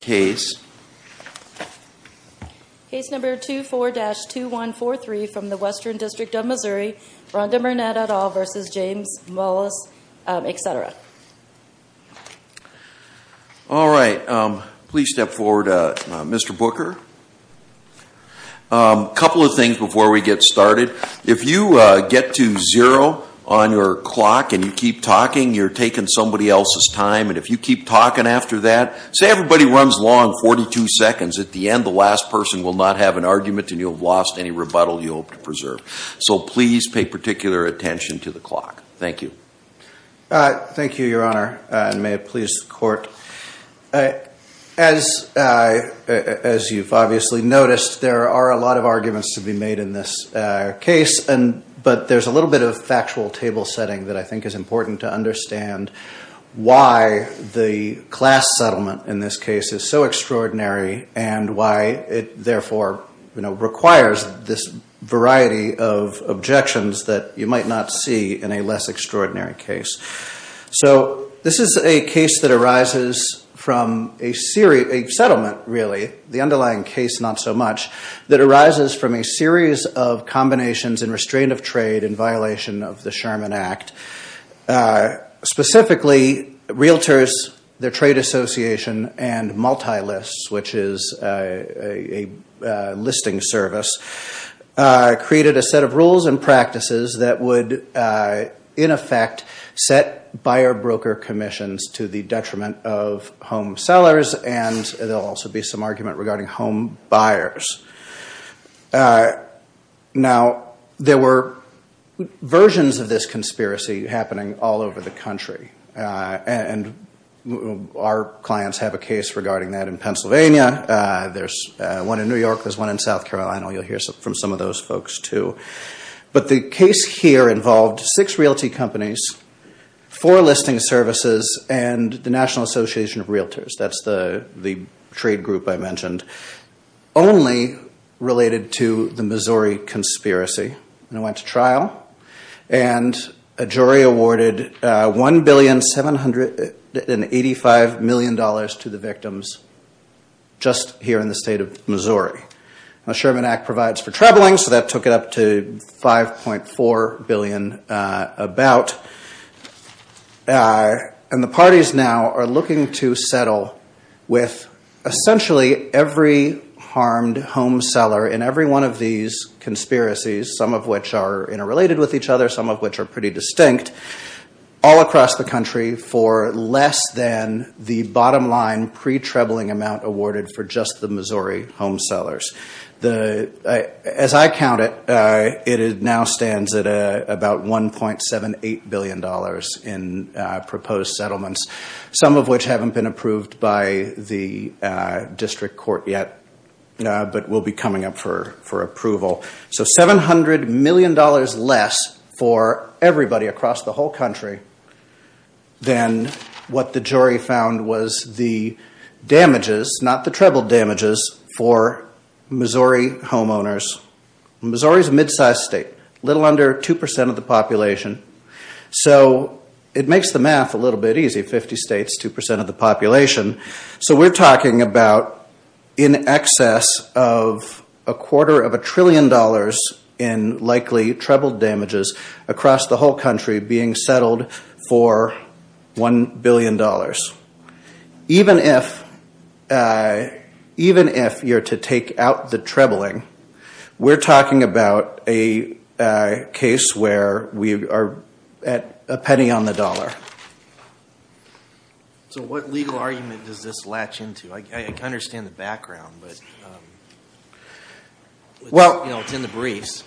Case number 24-2143 from the Western District of Missouri, Rhonda Burnett et al. v. James Mullis, etc. All right, please step forward Mr. Booker. Couple of things before we get started. If you get to zero on your clock and you keep talking, you're taking somebody else's time and if you keep talking after that, say everybody runs long 42 seconds, at the end the last person will not have an argument and you'll have lost any rebuttal you hope to preserve. So please pay particular attention to the clock. Thank you. Thank you, Your Honor, and may it please the court. As you've obviously noticed, there are a lot of arguments to be made in this case, but there's a little bit of factual table setting that I think is important to understand why the class settlement in this case is so extraordinary and why it therefore requires this variety of objections that you might not see in a less extraordinary case. So this is a case that arises from a settlement, really, the underlying case not so much, that arises from a series of combinations and restraint of trade in violation of the Sherman Act. Specifically, realtors, their trade association, and multi-lists, which is a listing service, created a set of rules and practices that would, in effect, set buyer-broker commissions to the detriment of home sellers, and there'll also be some argument regarding home buyers. Now there were versions of this conspiracy happening all over the country, and our clients have a case regarding that in Pennsylvania, there's one in New York, there's one in South Carolina. You'll hear from some of those folks, too. But the case here involved six realty companies, four listing services, and the National Association of Realtors. That's the trade group I mentioned. Only related to the Missouri conspiracy, and it went to trial, and a jury awarded $1,785,000,000 to the victims just here in the state of Missouri. The Sherman Act provides for trebling, so that took it up to $5.4 billion about. And the parties now are looking to settle with essentially every harmed home seller in every one of these conspiracies, some of which are interrelated with each other, some of which are pretty distinct, all across the country for less than the bottom line pre-trebling amount awarded for just the Missouri home sellers. As I count it, it now stands at about $1.78 billion in proposed settlements, some of which haven't been approved by the district court yet, but will be coming up for approval. So $700 million less for everybody across the whole country than what the jury found was the damages, not the treble damages, for Missouri homeowners. Missouri is a mid-sized state, a little under 2% of the population. So it makes the math a little bit easy, 50 states, 2% of the population. So we're talking about in excess of a quarter of a trillion dollars in likely treble damages across the whole country being settled for $1 billion. Even if you're to take out the trebling, we're talking about a case where we are at a penny on the dollar. So what legal argument does this latch into? I understand the background, but it's in the briefs.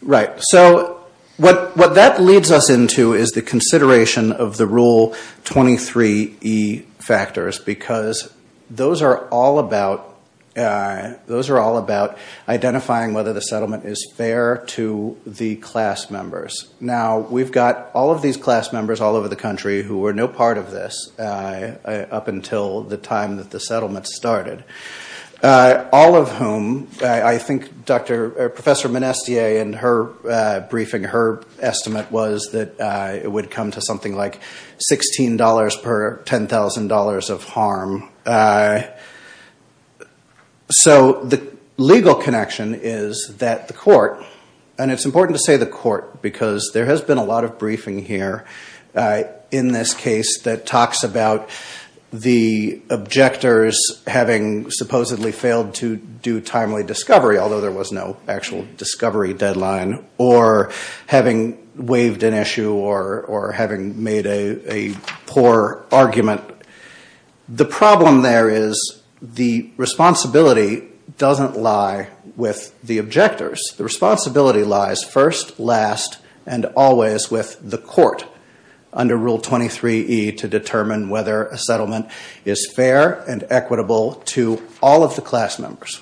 Right. So what that leads us into is the consideration of the Rule 23E factors, because those are all about identifying whether the settlement is fair to the class members. Now we've got all of these class members all over the country who were no part of this up until the time that the settlement started. All of whom, I think Professor Monestier in her briefing, her estimate was that it would come to something like $16 per $10,000 of harm. So the legal connection is that the court, and it's important to say the court because there has been a lot of briefing here in this case that talks about the objectors having supposedly failed to do timely discovery, although there was no actual discovery deadline, or having waived an issue, or having made a poor argument. The problem there is the responsibility doesn't lie with the objectors. The responsibility lies first, last, and always with the court under Rule 23E to determine whether a settlement is fair and equitable to all of the class members.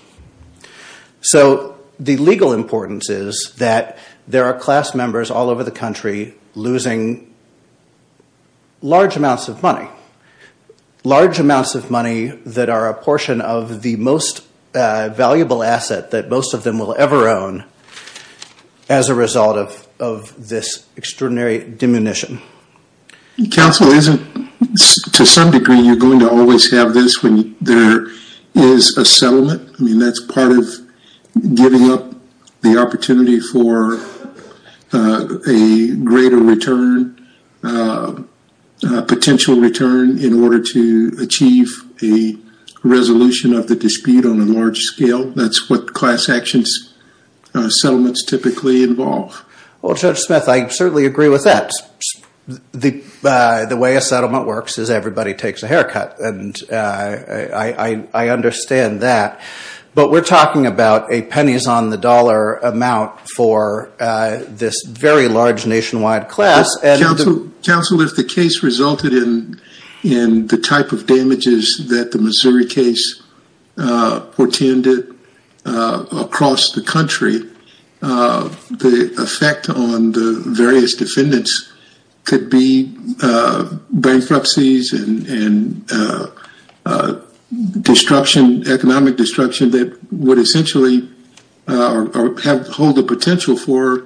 So the legal importance is that there are class members all over the country losing large amounts of money. Large amounts of money that are a portion of the most valuable asset that most of them will ever own as a result of this extraordinary diminution. Counsel isn't, to some degree, you're going to always have this when there is a settlement. That's part of giving up the opportunity for a greater return, a potential return, in order to achieve a resolution of the dispute on a large scale. That's what class action settlements typically involve. Well, Judge Smith, I certainly agree with that. The way a settlement works is everybody takes a haircut, and I understand that. But we're talking about a pennies-on-the-dollar amount for this very large nationwide class. Counsel, if the case resulted in the type of damages that the Missouri case portended across the country, the effect on the various defendants could be bankruptcies and economic destruction that would essentially hold the potential for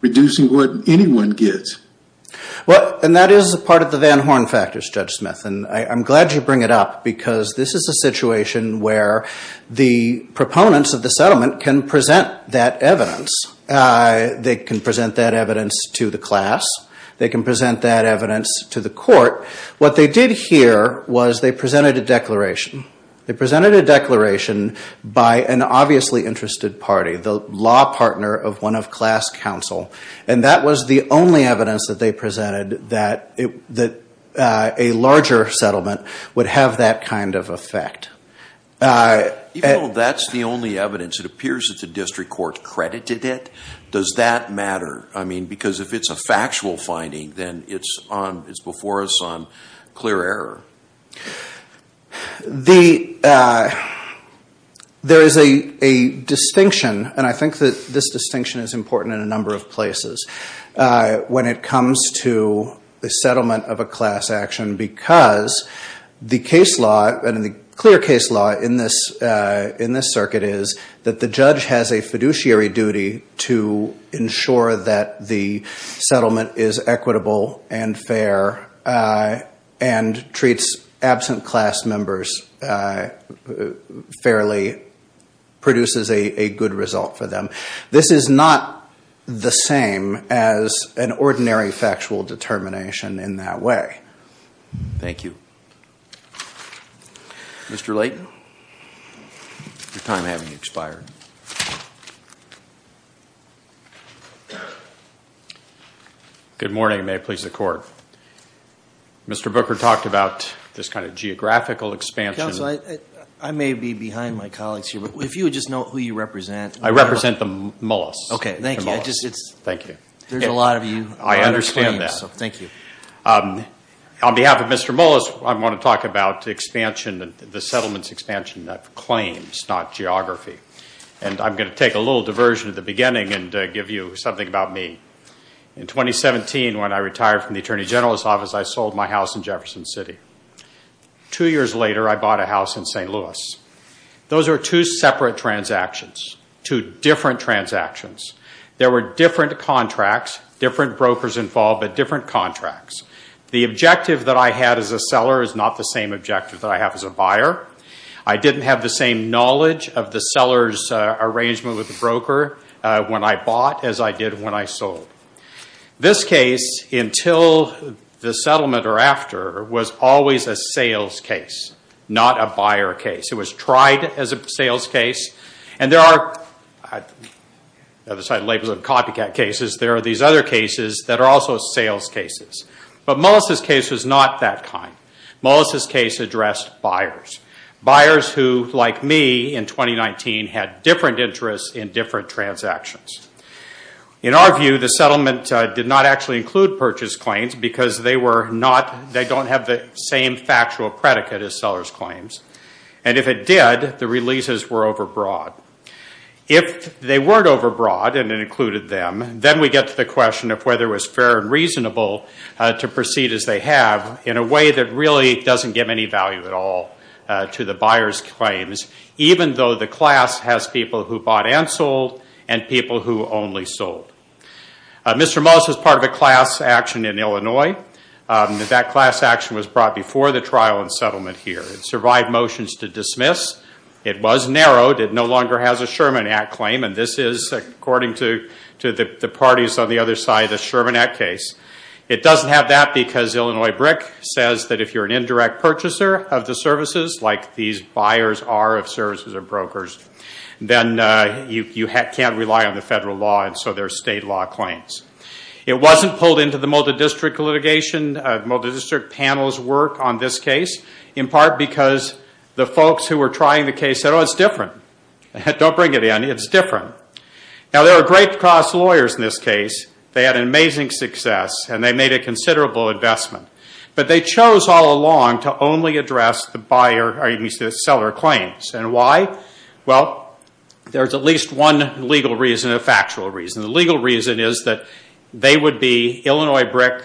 reducing what anyone gets. And that is a part of the Van Horn factors, Judge Smith, and I'm glad you bring it up because this is a situation where the proponents of the settlement can present that evidence. They can present that evidence to the class. They can present that evidence to the court. What they did here was they presented a declaration. They presented a declaration by an obviously interested party, the law partner of one of class counsel, and that was the only evidence that they presented that a larger settlement would have that kind of effect. Even though that's the only evidence, it appears that the district court credited it. Does that matter? Because if it's a factual finding, then it's before us on clear error. There is a distinction, and I think that this distinction is important in a number of places, when it comes to the settlement of a class action because the clear case law in this circuit is that the judge has a fiduciary duty to ensure that the settlement is equitable and fair and treats absent class members fairly, produces a good result for them. This is not the same as an ordinary factual determination in that way. Thank you. Mr. Layton, your time has expired. Good morning, and may it please the court. Mr. Booker talked about this kind of geographical expansion. Counsel, I may be behind my colleagues here, but if you would just note who you represent. I represent the Mullis. Okay, thank you. Thank you. There's a lot of you. I understand that. Thank you. On behalf of Mr. Mullis, I want to talk about the expansion, the settlement's expansion of claims, not geography. I'm going to take a little diversion at the beginning and give you something about me. In 2017, when I retired from the Attorney General's office, I sold my house in Jefferson City. Two years later, I bought a house in St. Louis. Those are two separate transactions, two different transactions. There were different contracts, different brokers involved, but different contracts. The objective that I had as a seller is not the same objective that I have as a buyer. I didn't have the same knowledge of the seller's arrangement with the broker when I bought as I did when I sold. This case, until the settlement or after, was always a sales case, not a buyer case. It was tried as a sales case. And there are, aside labels of copycat cases, there are these other cases that are also sales cases. But Mullis' case was not that kind. Mullis' case addressed buyers, buyers who, like me in 2019, had different interests in different transactions. In our view, the settlement did not actually include purchase claims because they don't have the same factual predicate as seller's claims. And if it did, the releases were overbroad. If they weren't overbroad and it included them, then we get to the question of whether it was fair and reasonable to proceed as they have in a way that really doesn't give any value at all to the buyer's claims, even though the class has people who bought and sold and people who only sold. Mr. Mullis was part of a class action in Illinois. That class action was brought before the trial and settlement here. It survived motions to dismiss. It was narrowed. It no longer has a Sherman Act claim. And this is, according to the parties on the other side, a Sherman Act case. It doesn't have that because Illinois BRIC says that if you're an indirect purchaser of the services, like these buyers are of services or brokers, then you can't rely on the federal law. And so there are state law claims. It wasn't pulled into the multidistrict litigation. Multidistrict panels work on this case in part because the folks who were trying the case said, oh, it's different. Don't bring it in. It's different. Now, there are great class lawyers in this case. They had an amazing success and they made a considerable investment. But they chose all along to only address the seller claims. And why? Well, there's at least one legal reason and a factual reason. And the legal reason is that they would be Illinois BRIC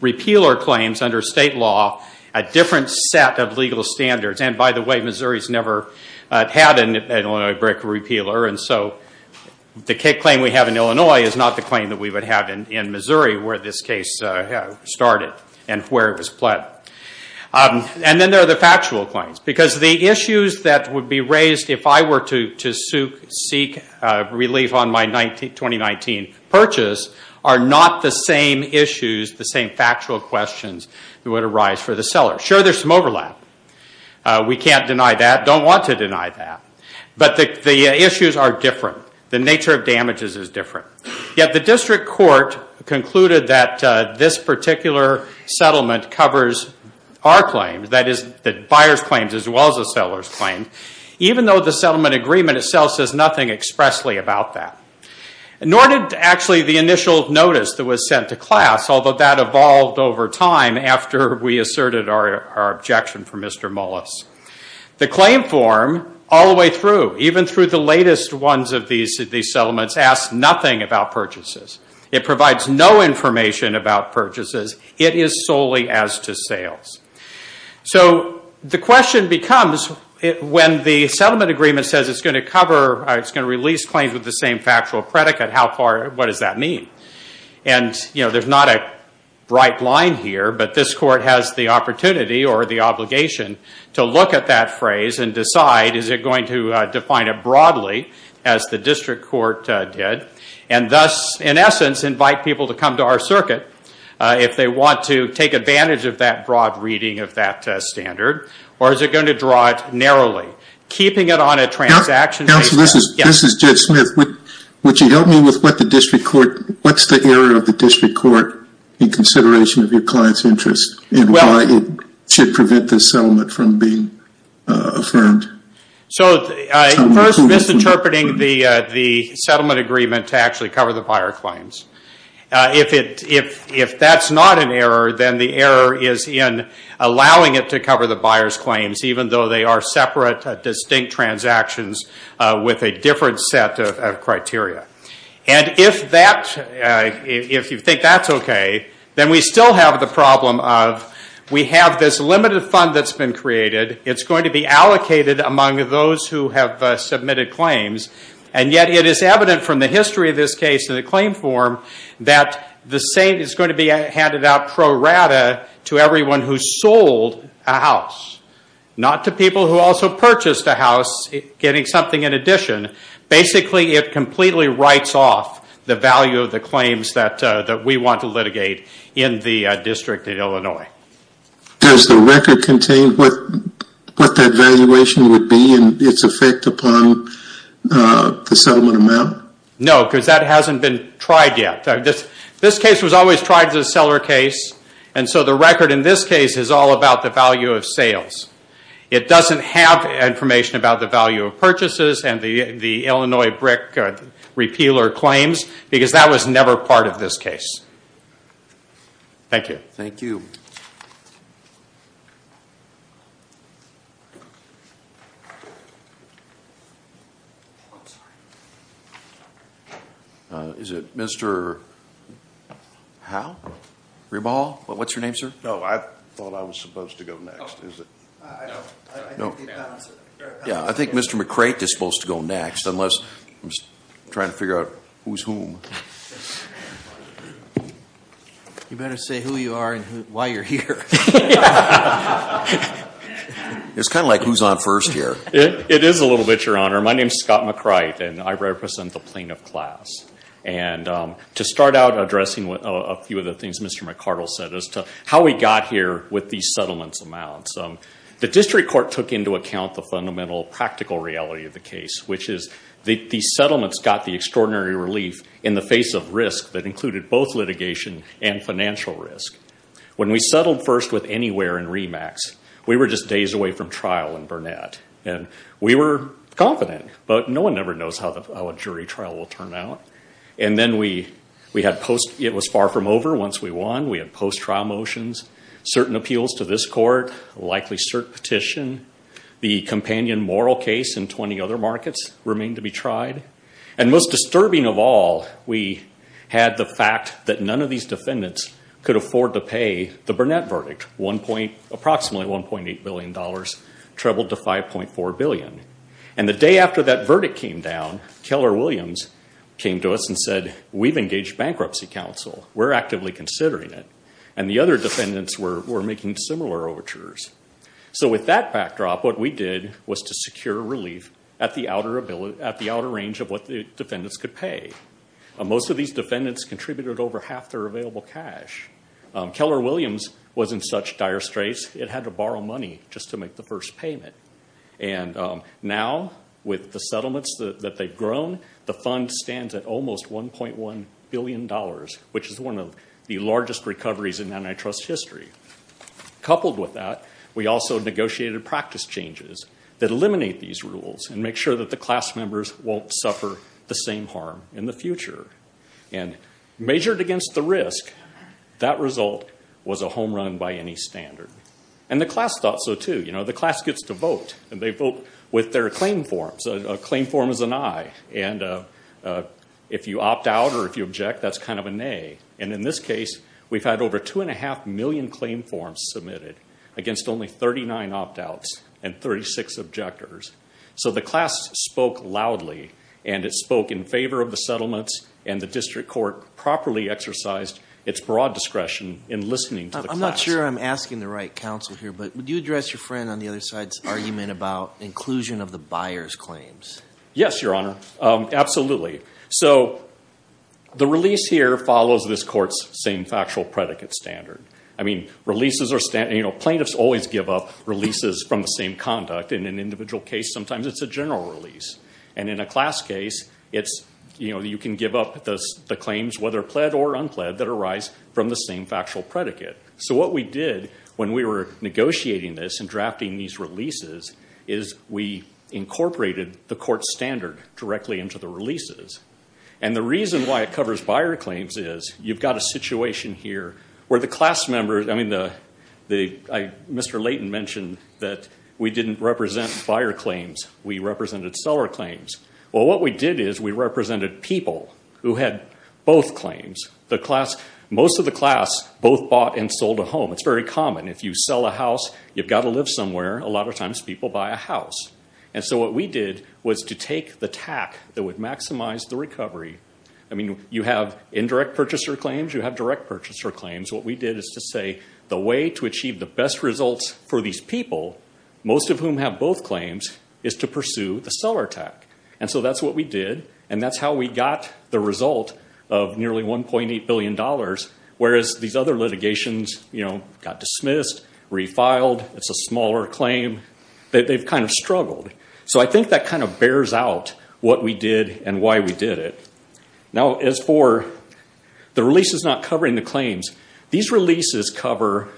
repealer claims under state law, a different set of legal standards. And by the way, Missouri's never had an Illinois BRIC repealer. And so the claim we have in Illinois is not the claim that we would have in Missouri where this case started and where it was pled. And then there are the factual claims. Because the issues that would be raised if I were to seek relief on my 2019 purchase are not the same issues, the same factual questions that would arise for the seller. Sure, there's some overlap. We can't deny that. Don't want to deny that. But the issues are different. The nature of damages is different. Yet the district court concluded that this particular settlement covers our claims. That is, the buyer's claims as well as the seller's claims, even though the settlement agreement itself says nothing expressly about that. Nor did actually the initial notice that was sent to class, although that evolved over time after we asserted our objection from Mr. Mullis. The claim form all the way through, even through the latest ones of these settlements, asks nothing about purchases. It provides no information about purchases. It is solely as to sales. So the question becomes, when the settlement agreement says it's going to release claims with the same factual predicate, what does that mean? And there's not a bright line here, but this court has the opportunity or the obligation to look at that phrase and decide, is it going to define it broadly, as the district court did, and thus, in essence, invite people to come to our circuit. If they want to take advantage of that broad reading of that standard, or is it going to draw it narrowly? Keeping it on a transaction basis... Counsel, this is Judge Smith. Would you help me with what the district court... What's the error of the district court in consideration of your client's interests and why it should prevent this settlement from being affirmed? So first, misinterpreting the settlement agreement to actually cover the buyer claims. If that's not an error, then the error is in allowing it to cover the buyer's claims, even though they are separate, distinct transactions with a different set of criteria. And if you think that's okay, then we still have the problem of, we have this limited fund that's been created. It's going to be allocated among those who have submitted claims, and yet it is evident from the history of this case in the claim form that the same is going to be handed out pro rata to everyone who sold a house. Not to people who also purchased a house, getting something in addition. Basically, it completely writes off the value of the claims that we want to litigate in the district in Illinois. Does the record contain what that valuation would be and its effect upon the settlement agreement? No, because that hasn't been tried yet. This case was always tried as a seller case, and so the record in this case is all about the value of sales. It doesn't have information about the value of purchases and the Illinois brick repealer claims because that was never part of this case. Thank you. Thank you. Is it Mr. Howe? Rebahal? What's your name, sir? No, I thought I was supposed to go next. Is it? No. No. Yeah, I think Mr. McCrate is supposed to go next, unless I'm trying to figure out who's whom. You better say who you are and why you're here. It's kind of like who's on first here. It is a little bit, Your Honor. My name is Scott McCrate, and I represent the plaintiff class. To start out addressing a few of the things Mr. McCartle said as to how we got here with these settlements amounts, the district court took into account the fundamental practical reality of the case, which is that these settlements got the extraordinary relief in the face of risk that included both litigation and financial risk. When we settled first with Anywhere and REMAX, we were just days away from trial in Burnett, and we were confident, but no one ever knows how a jury trial will turn out. And then it was far from over once we won. We had post-trial motions, certain appeals to this court, likely cert petition, the companion moral case, and 20 other markets remained to be tried. And most disturbing of all, we had the fact that none of these defendants could afford to pay the Burnett verdict, approximately $1.8 billion, trebled to $5.4 billion. And the day after that verdict came down, Keller Williams came to us and said, we've engaged Bankruptcy Council. We're actively considering it. And the other defendants were making similar overtures. So with that backdrop, what we did was to secure relief at the outer range of what the defendants could pay. Most of these defendants contributed over half their available cash. Keller Williams was in such dire straits, it had to borrow money just to make the first payment. And now, with the settlements that they've grown, the fund stands at almost $1.1 billion, which is one of the largest recoveries in antitrust history. Coupled with that, we also negotiated practice changes that eliminate these rules and make sure that the class members won't suffer the same harm in the future. And measured against the risk, that result was a home run by any standard. And the class thought so, too. You know, the class gets to vote, and they vote with their claim forms. A claim form is an eye, and if you opt out or if you object, that's kind of a nay. And in this case, we've had over two and a half million claim forms submitted against only 39 opt-outs and 36 objectors. So the class spoke loudly, and it spoke in favor of the settlements, and the district court properly exercised its broad discretion in listening to the class. I'm not sure I'm asking the right counsel here, but would you address your friend on the other side's argument about inclusion of the buyer's claims? Yes, Your Honor, absolutely. So the release here follows this court's same factual predicate standard. I mean, plaintiffs always give up releases from the same conduct. In an individual case, sometimes it's a general release. And in a class case, you can give up the claims, whether pled or unpled, that arise from the same factual predicate. So what we did when we were negotiating this and drafting these releases is we incorporated the court standard directly into the releases. And the reason why it covers buyer claims is you've got a situation here where the class members, I mean, Mr. Layton mentioned that we didn't represent buyer claims, we represented seller claims. Well, what we did is we represented people who had both claims. Most of the class both bought and sold a home. It's very common. If you sell a house, you've got to live somewhere. A lot of times, people buy a house. And so what we did was to take the TAC that would maximize the recovery, I mean, you have indirect purchaser claims, you have direct purchaser claims. What we did is to say the way to achieve the best results for these people, most of whom have both claims, is to pursue the seller TAC. And so that's what we did. And that's how we got the result of nearly $1.8 billion, whereas these other litigations, you know, got dismissed, refiled, it's a smaller claim. They've kind of struggled. So I think that kind of bears out what we did and why we did it. Now as for the releases not covering the claims, these releases cover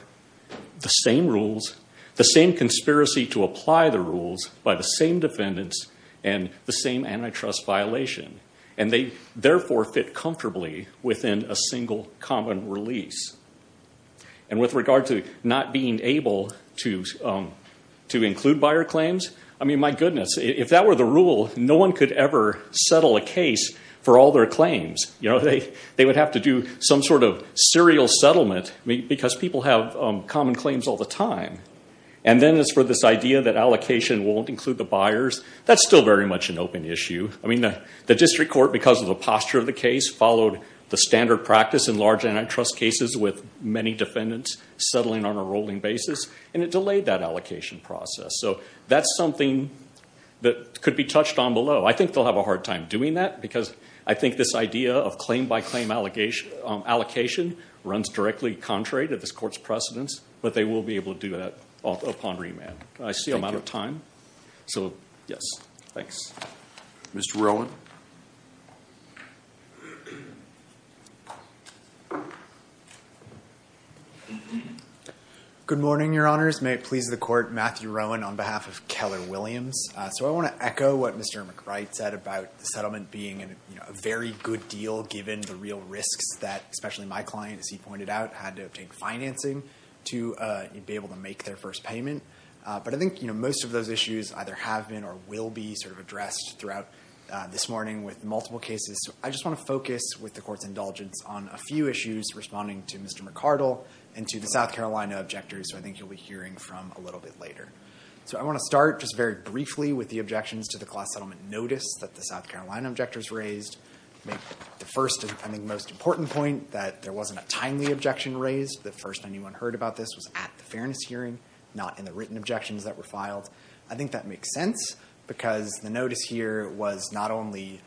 the same rules, the same conspiracy to apply the rules by the same defendants and the same antitrust violation. And they therefore fit comfortably within a single common release. And with regard to not being able to include buyer claims, I mean, my goodness, if that were the rule, no one could ever settle a case for all their claims. You know, they would have to do some sort of serial settlement because people have common claims all the time. And then as for this idea that allocation won't include the buyers, that's still very much an open issue. I mean, the district court, because of the posture of the case, followed the standard practice in large antitrust cases with many defendants settling on a rolling basis, and it delayed that allocation process. So that's something that could be touched on below. I think they'll have a hard time doing that because I think this idea of claim by claim allocation runs directly contrary to this court's precedence, but they will be able to do that upon remand. I see I'm out of time. So yes. Thanks. Mr. Rowan. Good morning, Your Honors. May it please the court, Matthew Rowan on behalf of Keller Williams. So I want to echo what Mr. McBride said about the settlement being a very good deal given the real risks that, especially my client, as he pointed out, had to obtain financing to be able to make their first payment. But I think most of those issues either have been or will be sort of addressed throughout this morning with multiple cases, so I just want to focus with the court's indulgence on a few issues responding to Mr. McArdle and to the South Carolina objectors, who I think you'll be hearing from a little bit later. So I want to start just very briefly with the objections to the class settlement notice that the South Carolina objectors raised. The first and most important point that there wasn't a timely objection raised, the first anyone heard about this was at the fairness hearing, not in the written objections that were filed. I think that makes sense because the notice here was not only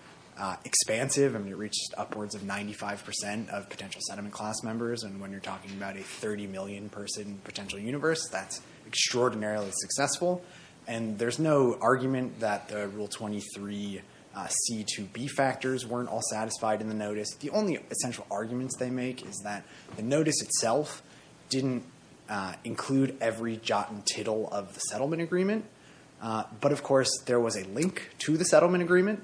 expansive, I mean, it reached upwards of 95% of potential settlement class members, and when you're talking about a 30 million person potential universe, that's extraordinarily successful. And there's no argument that the Rule 23 C2B factors weren't all satisfied in the notice. The only essential arguments they make is that the notice itself didn't include every jot and tittle of the settlement agreement, but of course there was a link to the settlement agreement,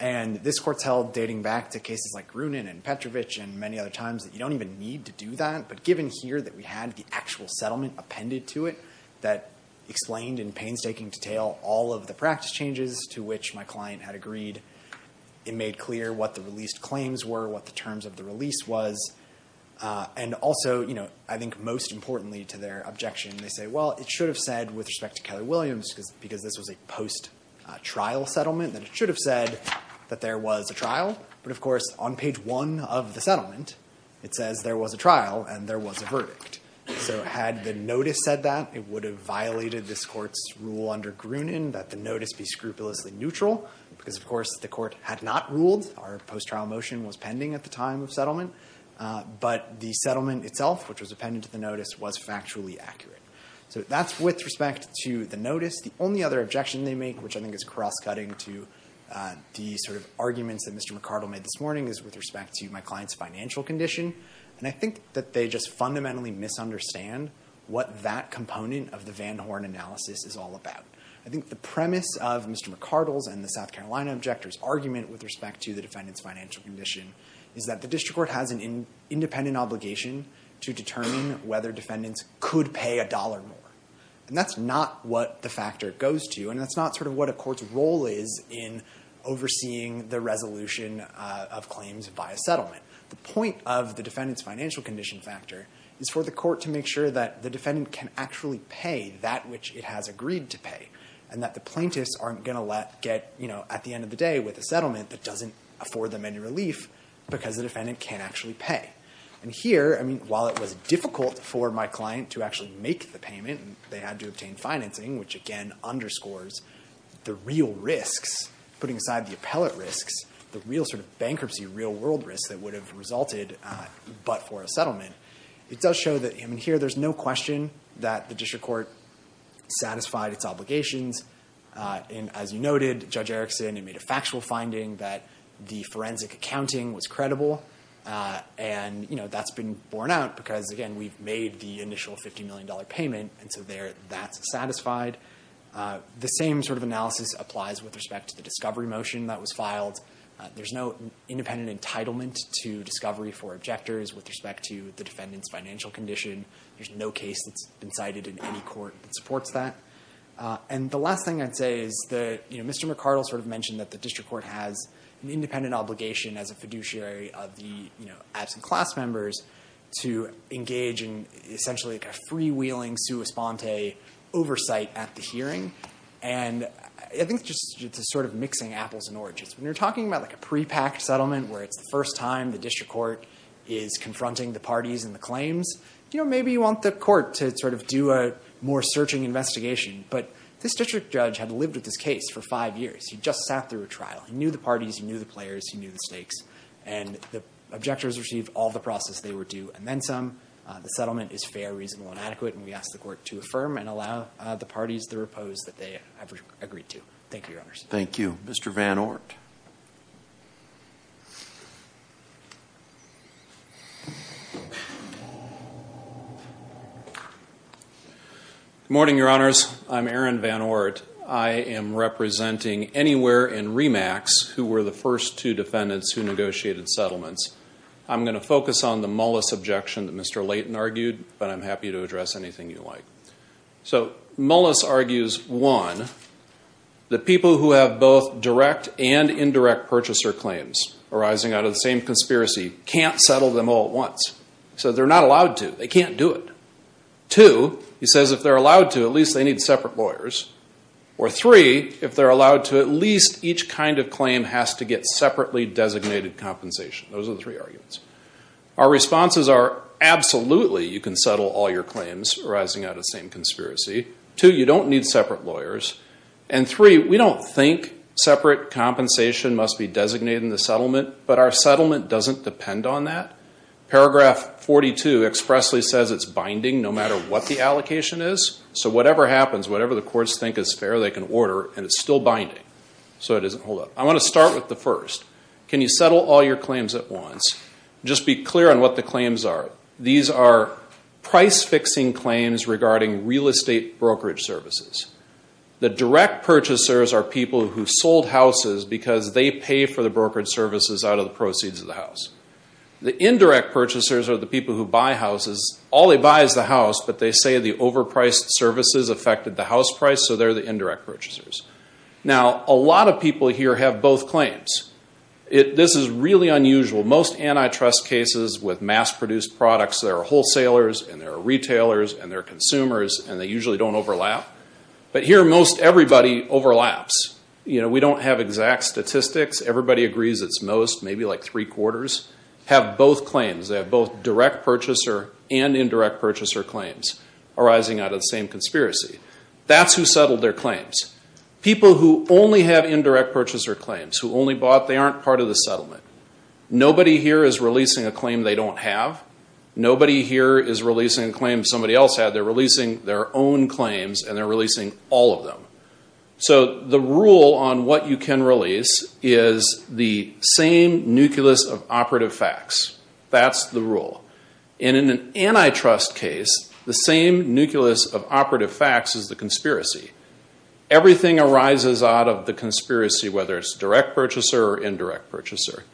and this court's held, dating back to cases like Grunin and Petrovich and many other times, that you don't even need to do that, but given here that we had the actual settlement appended to it that explained in painstaking detail all of the practice changes to which my client had agreed, it made clear what the released claims were, what the terms of the release was, and also, you know, I think most importantly to their objection, they say, well, it should have said, with respect to Keller Williams, because this was a post-trial settlement, that it should have said that there was a trial, but of course on page one of the settlement, it says there was a trial and there was a verdict, so had the notice said that, it would have violated this court's rule under Grunin that the notice be scrupulously neutral, because of course the court had not ruled, our post-trial motion was pending at the time of settlement, but the settlement itself, which was appended to the notice, was factually accurate. So that's with respect to the notice. The only other objection they make, which I think is cross-cutting to the sort of arguments that Mr. McCardle made this morning, is with respect to my client's financial condition, and I think that they just fundamentally misunderstand what that component of the Van Horn analysis is all about. I think the premise of Mr. McCardle's and the South Carolina objector's argument with respect to the defendant's financial condition is that the district court has an independent obligation to determine whether defendants could pay a dollar more, and that's not what the factor goes to, and that's not sort of what a court's role is in overseeing the resolution of claims by a settlement. The point of the defendant's financial condition factor is for the court to make sure that the defendant can actually pay that which it has agreed to pay, and that the plaintiffs aren't going to get, at the end of the day, with a settlement that doesn't afford them any relief because the defendant can't actually pay. And here, while it was difficult for my client to actually make the payment, and they had to obtain financing, which again underscores the real risks, putting aside the appellate risks, the real sort of bankruptcy, real-world risks that would have resulted but for a settlement, it does show that here there's no question that the district court satisfied its obligations. And as you noted, Judge Erickson, it made a factual finding that the forensic accounting was credible, and that's been borne out because, again, we've made the initial $50 million payment, and so there that's satisfied. The same sort of analysis applies with respect to the discovery motion that was filed. There's no independent entitlement to discovery for objectors with respect to the defendant's financial condition. There's no case that's been cited in any court that supports that. And the last thing I'd say is that Mr. McArdle sort of mentioned that the district court has an independent obligation as a fiduciary of the absent class members to engage in essentially a freewheeling sua sponte oversight at the hearing. And I think it's just sort of mixing apples and oranges. When you're talking about a pre-packed settlement where it's the first time the district court is confronting the parties and the claims, you know, maybe you want the court to sort of do a more searching investigation. But this district judge had lived with this case for five years. He just sat through a trial. He knew the parties. He knew the players. He knew the stakes. And the objectors received all the process they were due and then some. The settlement is fair, reasonable, and adequate, and we ask the court to affirm and allow the parties the repose that they have agreed to. Thank you, Your Honors. Thank you. Mr. Van Ort. Good morning, Your Honors. I'm Aaron Van Ort. I am representing anywhere in REMACS who were the first two defendants who negotiated settlements. I'm going to focus on the Mullis objection that Mr. Layton argued, but I'm happy to address anything you like. So Mullis argues, one, the people who have both direct and indirect purchaser claims arising out of the same conspiracy can't settle them all at once. So they're not allowed to. They can't do it. Two, he says if they're allowed to, at least they need separate lawyers. Or three, if they're allowed to, at least each kind of claim has to get separately designated compensation. Those are the three arguments. Our responses are absolutely you can settle all your claims arising out of the same conspiracy. Two, you don't need separate lawyers. And three, we don't think separate compensation must be designated in the settlement, but our settlement doesn't depend on that. Paragraph 42 expressly says it's binding no matter what the allocation is. So whatever happens, whatever the courts think is fair, they can order, and it's still binding. So it doesn't hold up. I want to start with the first. Can you settle all your claims at once? Just be clear on what the claims are. These are price-fixing claims regarding real estate brokerage services. The direct purchasers are people who sold houses because they pay for the brokerage services out of the proceeds of the house. The indirect purchasers are the people who buy houses. All they buy is the house, but they say the overpriced services affected the house price, so they're the indirect purchasers. Now, a lot of people here have both claims. This is really unusual. Most antitrust cases with mass-produced products, there are wholesalers, and there are retailers, and there are consumers, and they usually don't overlap. But here, most everybody overlaps. You know, we don't have exact statistics. Everybody agrees it's most, maybe like three-quarters, have both claims. They have both direct purchaser and indirect purchaser claims arising out of the same conspiracy. That's who settled their claims. People who only have indirect purchaser claims, who only bought, they aren't part of the settlement. Nobody here is releasing a claim they don't have. Nobody here is releasing a claim somebody else had. They're releasing their own claims, and they're releasing all of them. So the rule on what you can release is the same nucleus of operative facts. That's the rule. And in an antitrust case, the same nucleus of operative facts is the conspiracy. Everything arises out of the conspiracy, whether it's direct purchaser or indirect purchaser.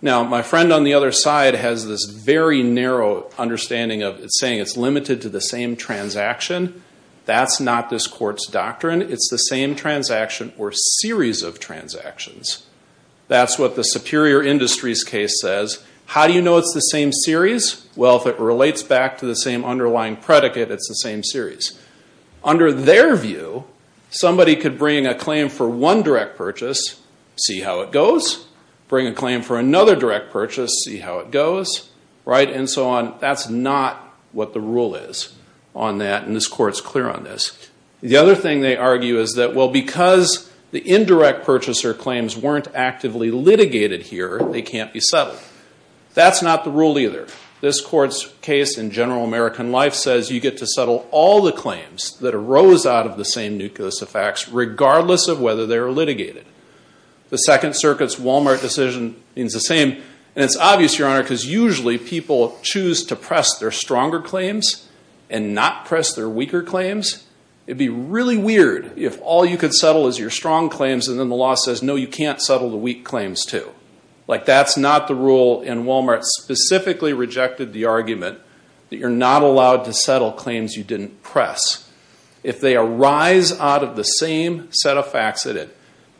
Now, my friend on the other side has this very narrow understanding of saying it's limited to the same transaction. That's not this court's doctrine. It's the same transaction or series of transactions. That's what the superior industries case says. How do you know it's the same series? Well, if it relates back to the same underlying predicate, it's the same series. Under their view, somebody could bring a claim for one direct purchase, see how it goes, bring a claim for another direct purchase, see how it goes, and so on. That's not what the rule is on that, and this court's clear on this. The other thing they argue is that, well, because the indirect purchaser claims weren't actively litigated here, they can't be settled. That's not the rule either. This court's case in General American Life says you get to settle all the claims that arose out of the same nucleus of facts, regardless of whether they're litigated. The Second Circuit's Walmart decision means the same, and it's obvious, Your Honor, because usually people choose to press their stronger claims and not press their weaker claims. It'd be really weird if all you could settle is your strong claims, and then the law says, no, you can't settle the weak claims, too. That's not the rule, and Walmart specifically rejected the argument that you're not allowed to settle claims you didn't press. If they arise out of the same set of facts,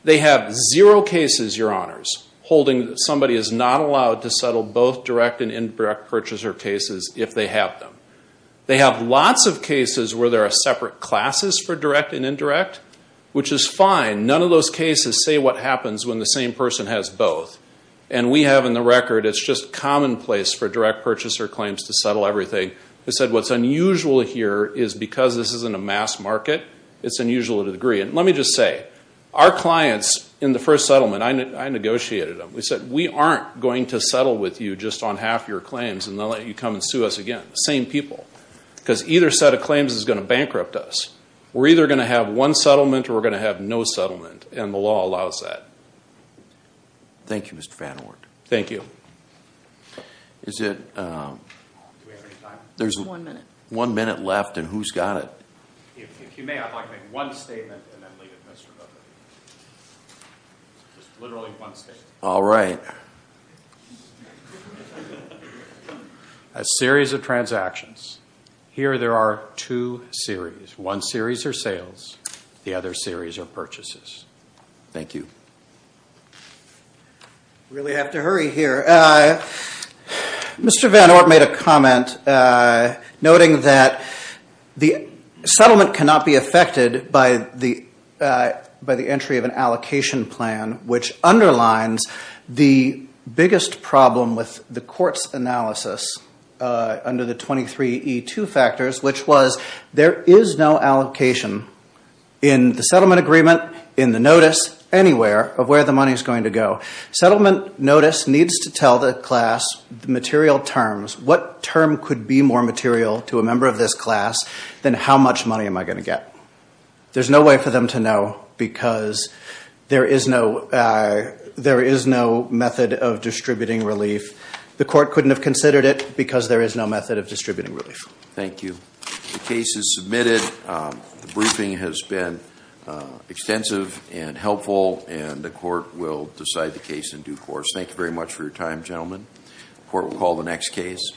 they have zero cases, Your Honors, holding that somebody is not allowed to settle both direct and indirect purchaser cases if they have them. They have lots of cases where there are separate classes for direct and indirect, which is fine. None of those cases say what happens when the same person has both, and we have in the record it's just commonplace for direct purchaser claims to settle everything. They said what's unusual here is because this isn't a mass market, it's unusual to agree. And let me just say, our clients in the first settlement, I negotiated them. We said, we aren't going to settle with you just on half your claims, and then let you come and sue us again. Same people. Because either set of claims is going to bankrupt us. We're either going to have one settlement or we're going to have no settlement, and the law allows that. Thank you, Mr. Van Oort. Thank you. Is it? Do we have any time? One minute. There's one minute left, and who's got it? If you may, I'd like to make one statement, and then leave it to Mr. Van Oort. Just literally one statement. All right. A series of transactions. Here there are two series. One series are the other series are purchases. Thank you. Really have to hurry here. Mr. Van Oort made a comment noting that the settlement cannot be affected by the entry of an allocation plan, which underlines the biggest problem with the court's analysis under the 23E2 factors, which was there is no allocation in the settlement agreement, in the notice, anywhere of where the money is going to go. Settlement notice needs to tell the class the material terms. What term could be more material to a member of this class than how much money am I going to get? There's no way for them to know because there is no method of distributing relief. The court couldn't have considered it because there is no method of distributing relief. Thank you. The case is submitted. The briefing has been extensive and helpful, and the court will decide the case in due course. Thank you very much for your time, gentlemen. The court will call the next case.